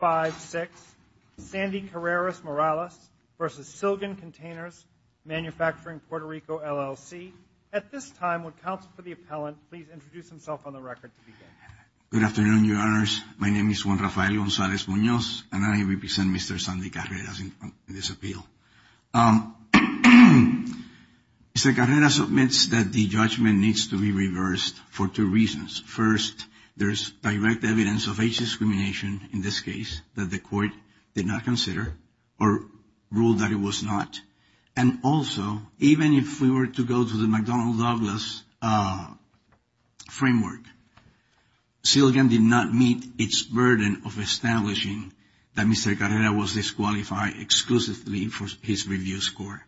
5-6, Sandy Carreras Morales v. Silgan Containers Manufacturing Puerto Rico, LLC. At this time, would counsel for the appellant please introduce himself on the record to begin. Good afternoon, your honors. My name is Juan Rafael Gonzalez-Munoz, and I represent Mr. Sandy Carreras in this appeal. Mr. Carreras admits that the judgment needs to be reversed for two reasons. First, there is direct evidence of age discrimination in this case that the court did not consider or ruled that it was not. And also, even if we were to go to the McDonnell Douglas framework, Silgan did not meet its burden of establishing that Mr. Carreras was disqualified exclusively for his review score.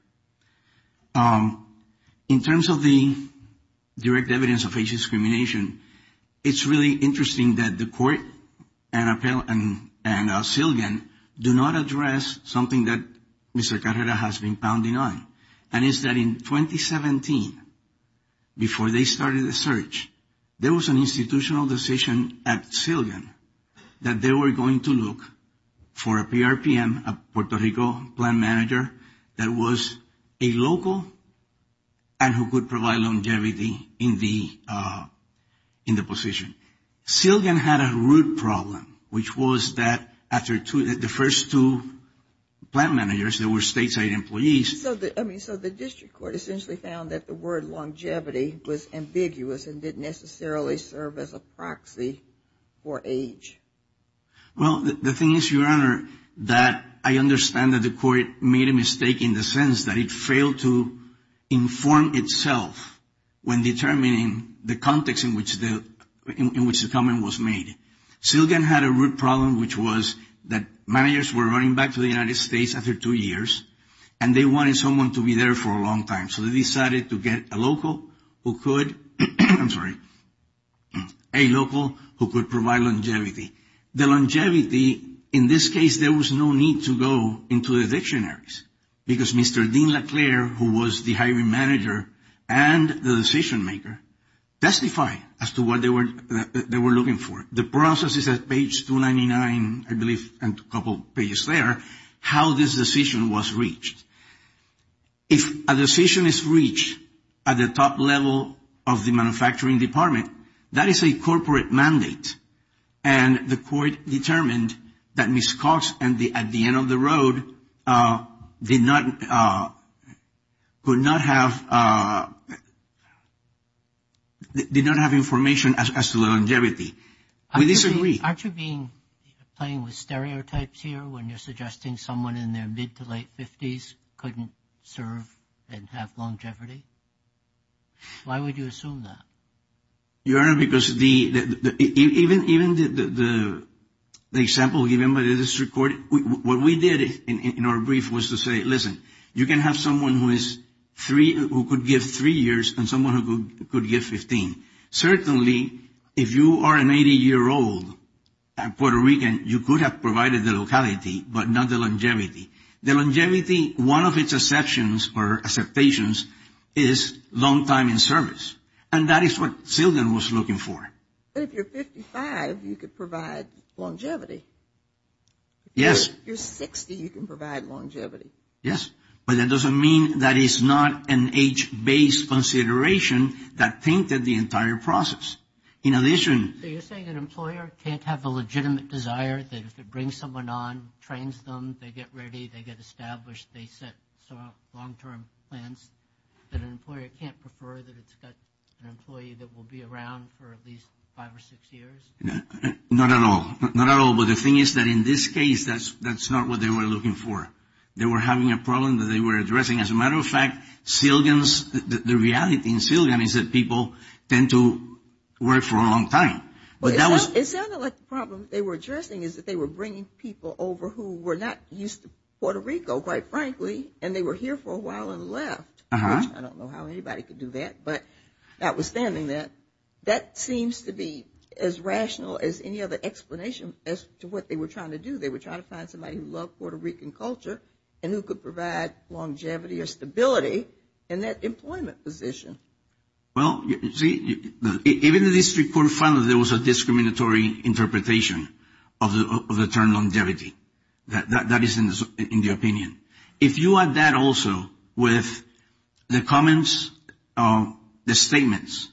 In terms of the direct evidence of age discrimination, it's really interesting that the court and Silgan do not address something that Mr. Carreras has been pounding on, and it's that in 2017, before they started the search, there was an institutional decision at Silgan that they were going to look for a PRPM, a Puerto Rico plant manager, that was disqualified. And that was a local, and who could provide longevity in the position. Silgan had a root problem, which was that after the first two plant managers, they were stateside employees. So the district court essentially found that the word longevity was ambiguous and didn't necessarily serve as a proxy for age. Well, the thing is, Your Honor, that I understand that the court made a mistake in the sense that it failed to inform itself when determining the context in which the comment was made. Silgan had a root problem, which was that managers were running back to the United States after two years, and they wanted someone to be there for a long time. So they decided to get a local who could, I'm sorry, a local who could provide longevity. The longevity, in this case, there was no need to go into the dictionaries, because Mr. Dean Leclerc, who was the hiring manager and the decision maker, testified as to what they were looking for. The process is at page 299, I believe, and a couple pages there, how this decision was reached. If a decision is reached at the top level of the manufacturing department, that is a corporate mandate. And the court determined that Ms. Cox at the end of the road did not have information as to longevity. We disagree. Aren't you playing with stereotypes here when you're suggesting someone in their mid to late 50s couldn't serve and have longevity? Why would you assume that? Your Honor, because even the example given by the district court, what we did in our brief was to say, listen, you can have someone who could give three years and someone who could give 15. Certainly, if you are an 80-year-old Puerto Rican, you could have provided the locality, but not the longevity. The longevity, one of its exceptions or acceptations is long time in service. And that is what Sildon was looking for. But if you're 55, you could provide longevity. Yes. If you're 60, you can provide longevity. Yes. But that doesn't mean that is not an age-based consideration that tainted the entire process. In addition. So you're saying an employer can't have a legitimate desire that if it brings someone on, trains them, they get ready, they get established, they set long-term plans, that an employer can't prefer that it's got an employee that will be around for at least five or six years? Not at all. Not at all. But the thing is that in this case, that's not what they were looking for. They were having a problem that they were addressing. As a matter of fact, Sildon's, the reality in Sildon is that people tend to work for a long time. But that was. It sounded like the problem they were addressing is that they were bringing people over who were not used to Puerto Rico, quite frankly, and they were here for a while and left, which I don't know how anybody could do that. But notwithstanding that, that seems to be as rational as any other explanation as to what they were trying to do. They were trying to find somebody who loved Puerto Rican culture and who could provide longevity or stability in that employment position. Well, see, even the district court found that there was a discriminatory interpretation of the term longevity. That is in the opinion. If you add that also with the comments, the statements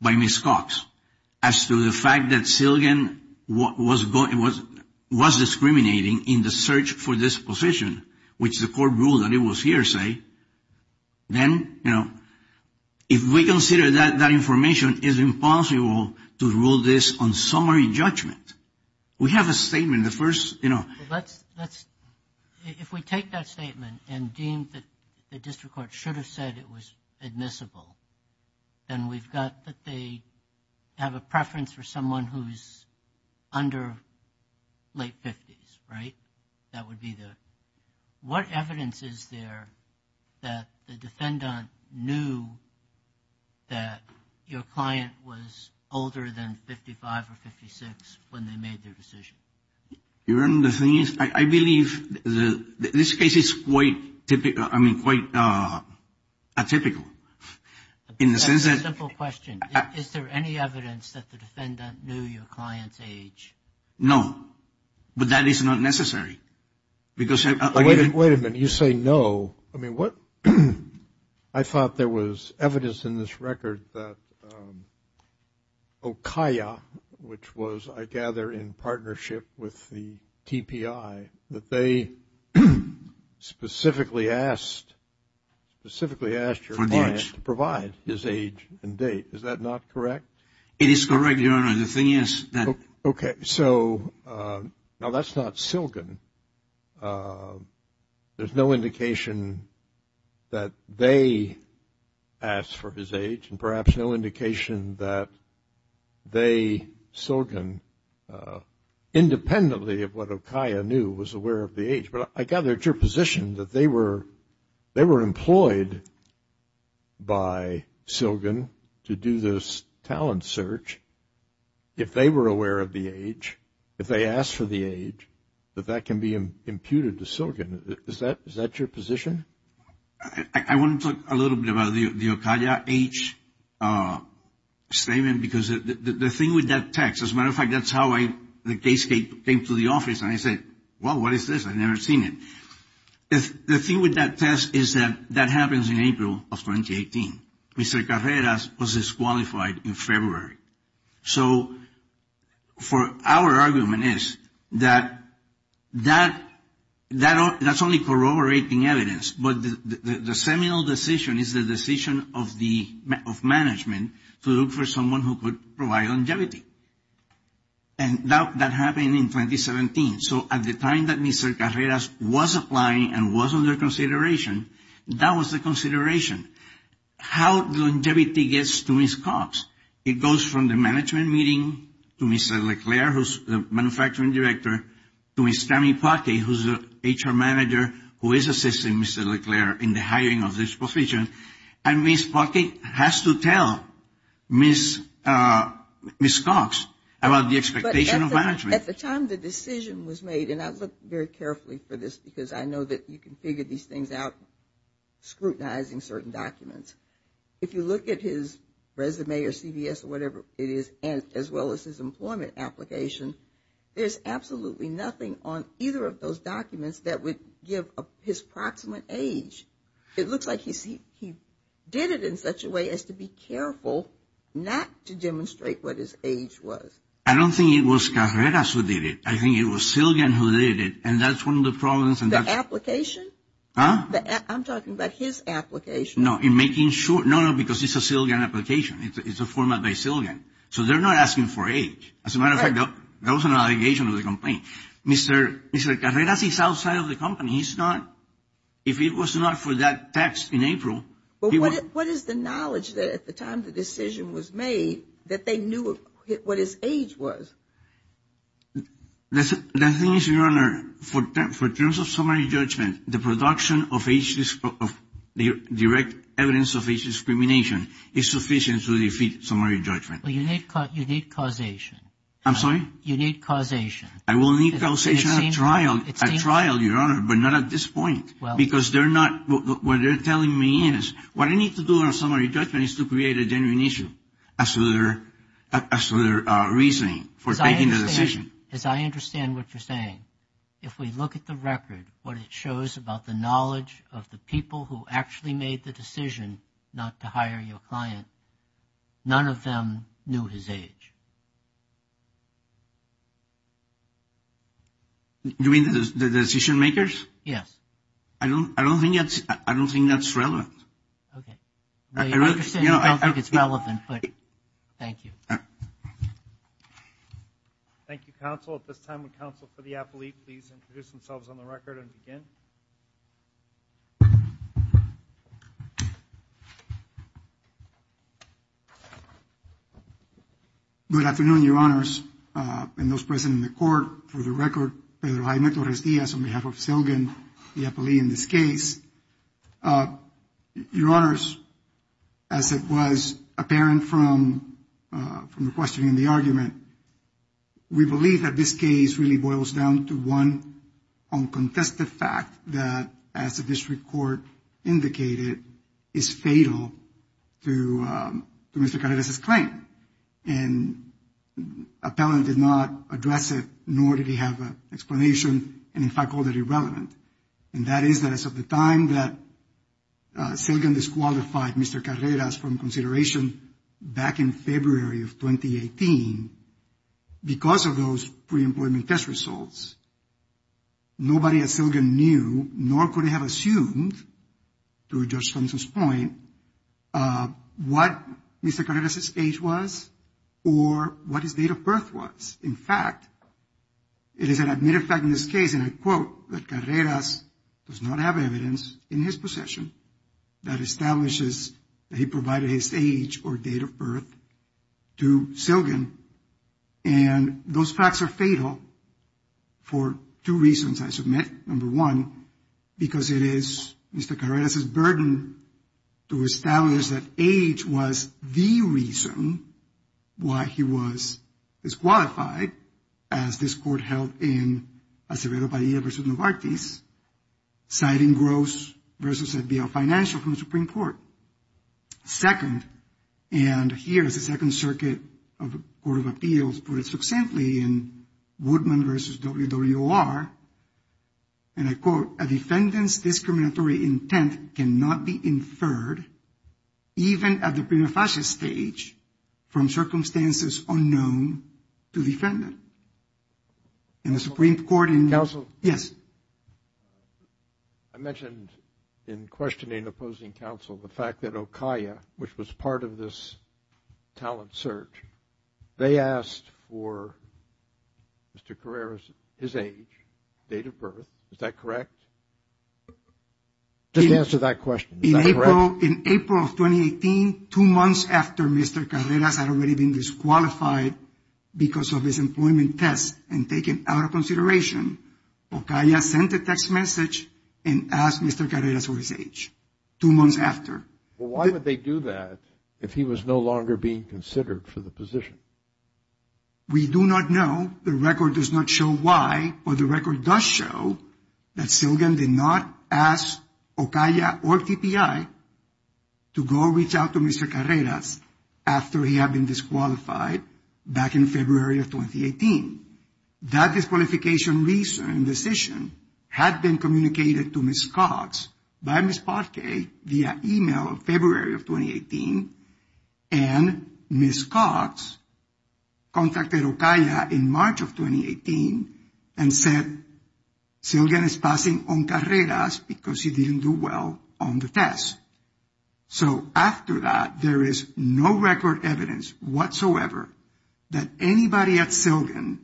by Ms. Cox as to the fact that Sildon was discriminating in the search for this position, which the court ruled that it was hearsay, then, you know, if we consider that that information, it is impossible to rule this on summary judgment. We have a statement. If we take that statement and deem that the district court should have said it was admissible, then we've got that they have a preference for someone who's under late 50s, right? That would be the. What evidence is there that the defendant knew that your client was older than 55 or 56 when they made their decision? The thing is, I believe this case is quite typical. I mean, quite atypical in the sense that. Simple question. Is there any evidence that the defendant knew your client's age? No. But that is not necessary. Because. Wait a minute. You say no. I mean, what. I thought there was evidence in this record that OKIA, which was, I gather, in partnership with the TPI, that they specifically asked your client to provide his age and date. Is that not correct? It is correct, Your Honor. The thing is that. Okay. So now that's not Silgen. There's no indication that they asked for his age and perhaps no indication that they, Silgen, independently of what OKIA knew, was aware of the age. But I gather it's your position that they were employed by Silgen to do this talent search. If they were aware of the age, if they asked for the age, that that can be imputed to Silgen. Is that your position? I want to talk a little bit about the OKIA age statement. Because the thing with that text, as a matter of fact, that's how the case came to the office. And I said, wow, what is this? I've never seen it. The thing with that test is that that happens in April of 2018. Mr. Carreras was disqualified in February. So our argument is that that's only corroborating evidence. But the seminal decision is the decision of management to look for someone who could provide longevity. And that happened in 2017. So at the time that Mr. Carreras was applying and was under consideration, that was the consideration. How longevity gets to Ms. Cox? It goes from the management meeting to Ms. LeClaire, who's the manufacturing director, to Ms. Tammy Pockett, who's the HR manager who is assisting Ms. LeClaire in the hiring of this position. And Ms. Pockett has to tell Ms. Cox about the expectation of management. At the time the decision was made, and I looked very carefully for this because I know that you can figure these things out, scrutinizing certain documents. If you look at his resume or CVS or whatever it is, as well as his employment application, there's absolutely nothing on either of those documents that would give his proximate age. It looks like he did it in such a way as to be careful not to demonstrate what his age was. I don't think it was Carreras who did it. I think it was Silgan who did it, and that's one of the problems. The application? I'm talking about his application. No, in making sure. No, no, because it's a Silgan application. It's a format by Silgan. So they're not asking for age. As a matter of fact, that was an allegation of the complaint. Mr. Carreras is outside of the company. He's not. If it was not for that text in April. But what is the knowledge that at the time the decision was made that they knew what his age was? The thing is, Your Honor, for terms of summary judgment, the production of direct evidence of age discrimination is sufficient to defeat summary judgment. You need causation. I'm sorry? You need causation. I will need causation at trial, Your Honor, but not at this point because they're not what they're telling me is what I need to do on summary judgment is to create a genuine issue as to their reasoning for taking the decision. As I understand what you're saying, if we look at the record, what it shows about the knowledge of the people who actually made the decision not to hire your client, none of them knew his age. You mean the decision makers? Yes. I don't think that's relevant. Okay. I understand you don't think it's relevant, but thank you. Thank you, counsel. At this time, would counsel for the appellee please introduce themselves on the record and begin? Good afternoon, Your Honors, and those present in the court. For the record, Pedro Jaime Torres Diaz on behalf of Selgin, the appellee in this case. Your Honors, as it was apparent from the question and the argument, we believe that this case really boils down to one uncontested fact that as the district court indicated, is fatal to Mr. Carreras' claim. And appellant did not address it, nor did he have an explanation, and in fact called it irrelevant. And that is that as of the time that Selgin disqualified Mr. Carreras from consideration back in February of 2018, because of those pre-employment test results, nobody at Selgin knew, nor could they have assumed through Judge Thompson's point, what Mr. Carreras' age was or what his date of birth was. In fact, it is an admitted fact in this case, and I quote, that Carreras does not have evidence in his possession that establishes that he provided his age or date of birth to Selgin. And those facts are fatal for two reasons, I submit. Number one, because it is Mr. Carreras' burden to establish that age was the reason why he was disqualified as this court held in Acevedo, Bahia versus Novartis, citing Gross versus ZBL Financial from the Supreme Court. Second, and here is the Second Circuit of the Court of Appeals put it succinctly in Woodman versus WWR, and I quote, a defendant's discriminatory intent cannot be inferred, even at the prima facie stage, from circumstances unknown to the defendant. And the Supreme Court in... Counsel? Yes. I mentioned in questioning opposing counsel the fact that OCAIA, which was part of this talent search, they asked for Mr. Carreras' age, date of birth, is that correct? Just answer that question, is that correct? In April of 2018, two months after Mr. Carreras had already been disqualified because of his employment test and taken out of consideration, OCAIA sent a text message and asked Mr. Carreras for his age, two months after. Well, why would they do that if he was no longer being considered for the position? We do not know. The record does not show why, but the record does show that Silgan did not ask OCAIA or TPI to go reach out to Mr. Carreras after he had been disqualified back in February of 2018. That disqualification reason and decision had been communicated to Ms. Cox by Ms. Parque via email in February of 2018. And Ms. Cox contacted OCAIA in March of 2018 and said, Silgan is passing on Carreras because he didn't do well on the test. So after that, there is no record evidence whatsoever that anybody at Silgan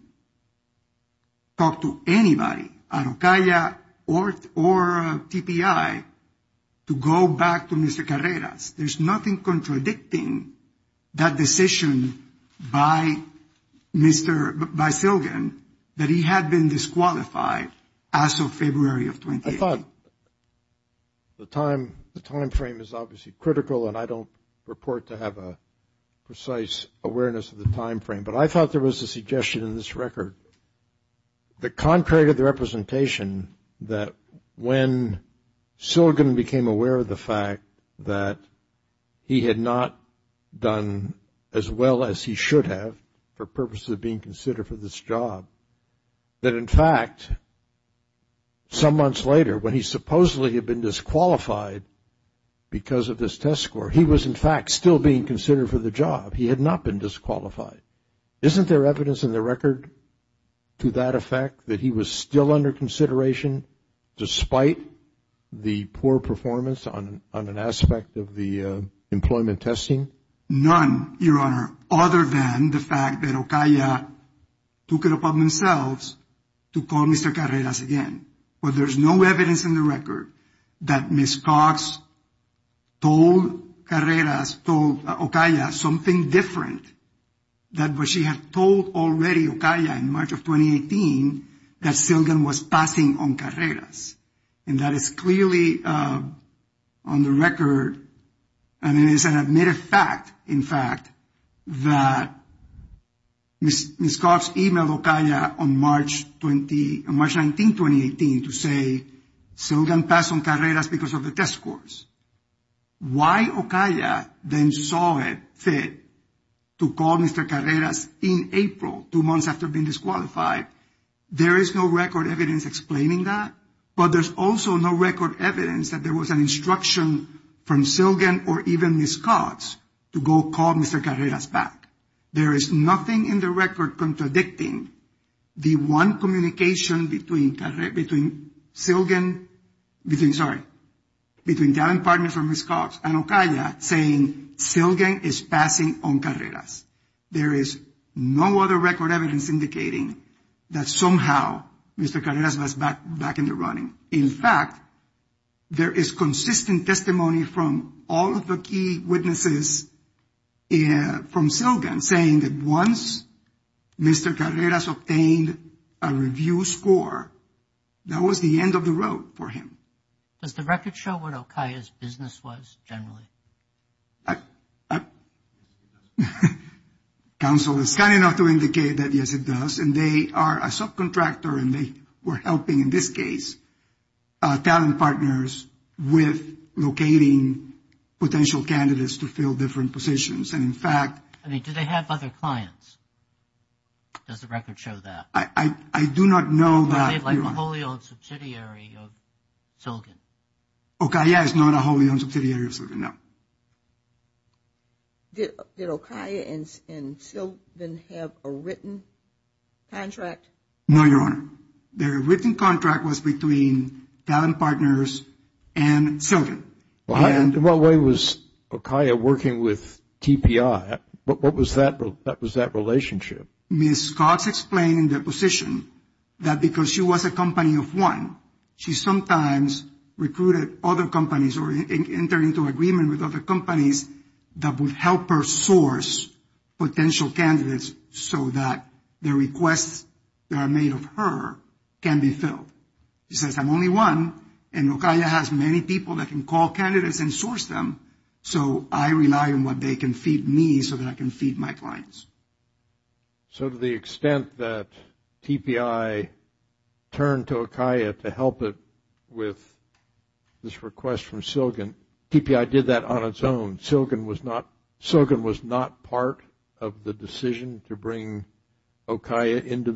talked to anybody at OCAIA or TPI to go back to Mr. Carreras. There's nothing contradicting that decision by Silgan that he had been disqualified as of February of 2018. I thought the timeframe is obviously critical, and I don't purport to have a precise awareness of the timeframe, but I thought there was a suggestion in this record that contrary to the representation, that when Silgan became aware of the fact that he had not done as well as he should have for purposes of being considered for this job, that in fact, some months later, when he supposedly had been disqualified because of this test score, he was in fact still being considered for the job. He had not been disqualified. Isn't there evidence in the record to that effect that he was still under consideration despite the poor performance on an aspect of the employment testing? None, Your Honor, other than the fact that OCAIA took it upon themselves to call Mr. Carreras again. But there's no evidence in the record that Ms. Cox told Carreras, told OCAIA something different than what she had told already OCAIA in March of 2018 that Silgan was passing on Carreras. And that is clearly on the record. And it is an admitted fact, in fact, that Ms. Cox emailed OCAIA on March 19, 2018 to say, Silgan passed on Carreras because of the test scores. Why OCAIA then saw it fit to call Mr. Carreras in April, two months after being disqualified, there is no record evidence explaining that. But there's also no record evidence that there was an instruction from Silgan or even Ms. Cox to go call Mr. Carreras back. There is nothing in the record contradicting the one communication between Silgan, between, sorry, between Talent Partners or Ms. Cox and OCAIA saying Silgan is passing on Carreras. There is no other record evidence indicating that somehow Mr. Carreras was back in the running. In fact, there is consistent testimony from all of the key witnesses from Silgan saying that once Mr. Carreras obtained a review score, that was the end of the road for him. Does the record show what OCAIA's business was generally? Counsel, it's kind enough to indicate that, yes, it does. And they are a subcontractor and they were helping, in this case, Talent Partners with locating potential candidates to fill different positions. And, in fact. I mean, do they have other clients? Does the record show that? I do not know that. OCAIA is like a wholly owned subsidiary of Silgan. OCAIA is not a wholly owned subsidiary of Silgan, no. Did OCAIA and Silgan have a written contract? No, Your Honor. Their written contract was between Talent Partners and Silgan. In what way was OCAIA working with TPI? What was that relationship? Ms. Cox explained in the position that because she was a company of one, she sometimes recruited other companies or entered into agreement with other companies that would help her source potential candidates so that the requests that are made of her can be filled. She says, I'm only one, and OCAIA has many people that can call candidates and source them, so I rely on what they can feed me so that I can feed my clients. So to the extent that TPI turned to OCAIA to help it with this request from Silgan, TPI did that on its own. Silgan was not part of the decision to bring OCAIA into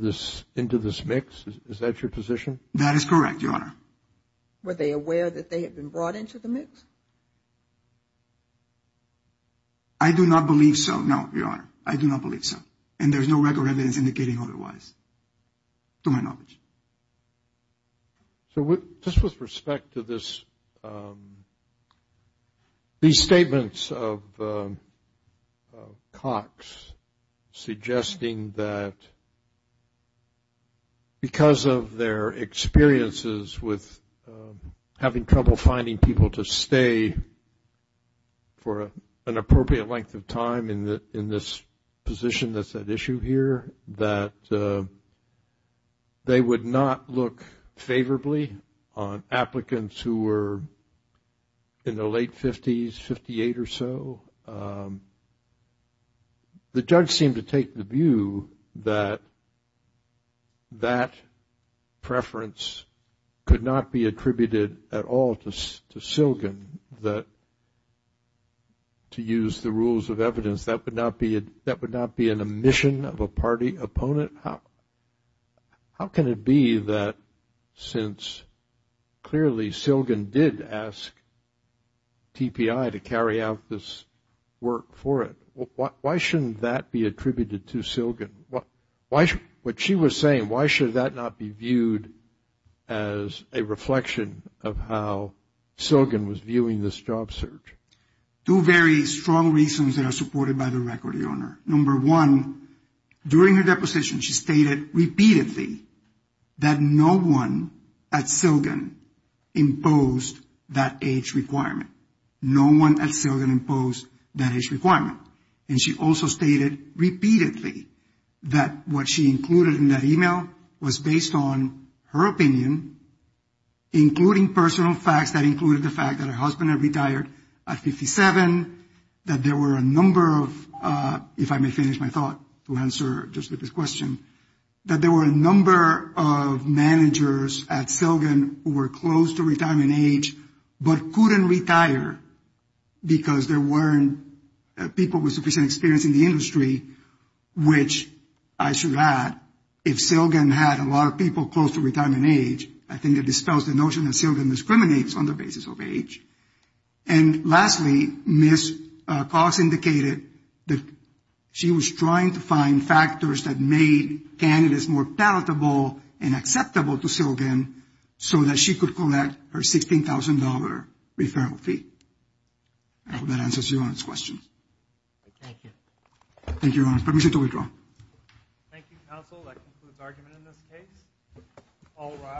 this mix. Is that your position? That is correct, Your Honor. Were they aware that they had been brought into the mix? I do not believe so, no, Your Honor. I do not believe so. And there's no record evidence indicating otherwise, to my knowledge. So just with respect to these statements of Cox suggesting that because of their experiences with having trouble finding people to stay for an appropriate length of time in this position that's at issue here, that they would not look favorably on applicants who were in their late 50s, 58 or so, the judge seemed to take the view that that preference could not be attributed at all to Silgan, that to use the rules of evidence that would not be an omission of a party opponent. How can it be that since clearly Silgan did ask TPI to carry out this work for it, why shouldn't that be attributed to Silgan? What she was saying, why should that not be viewed as a reflection of how Silgan was viewing this job search? Two very strong reasons that are supported by the record, Your Honor. Number one, during her deposition, she stated repeatedly that no one at Silgan imposed that age requirement. No one at Silgan imposed that age requirement. And she also stated repeatedly that what she included in that email was based on her opinion, including personal facts that included the fact that her husband had retired at 57, that there were a number of, if I may finish my thought to answer just to this question, that there were a number of managers at Silgan who were close to retirement age but couldn't retire because there weren't people with sufficient experience in the industry, which I should add, if Silgan had a lot of people close to retirement age, I think it dispels the notion that Silgan discriminates on the basis of age. And lastly, Ms. Cox indicated that she was trying to find factors that made candidates more palatable and acceptable to Silgan so that she could collect her $16,000 referral fee. I hope that answers Your Honor's question. Thank you. Thank you, Your Honor. Permission to withdraw. Thank you, counsel. That concludes argument in this case.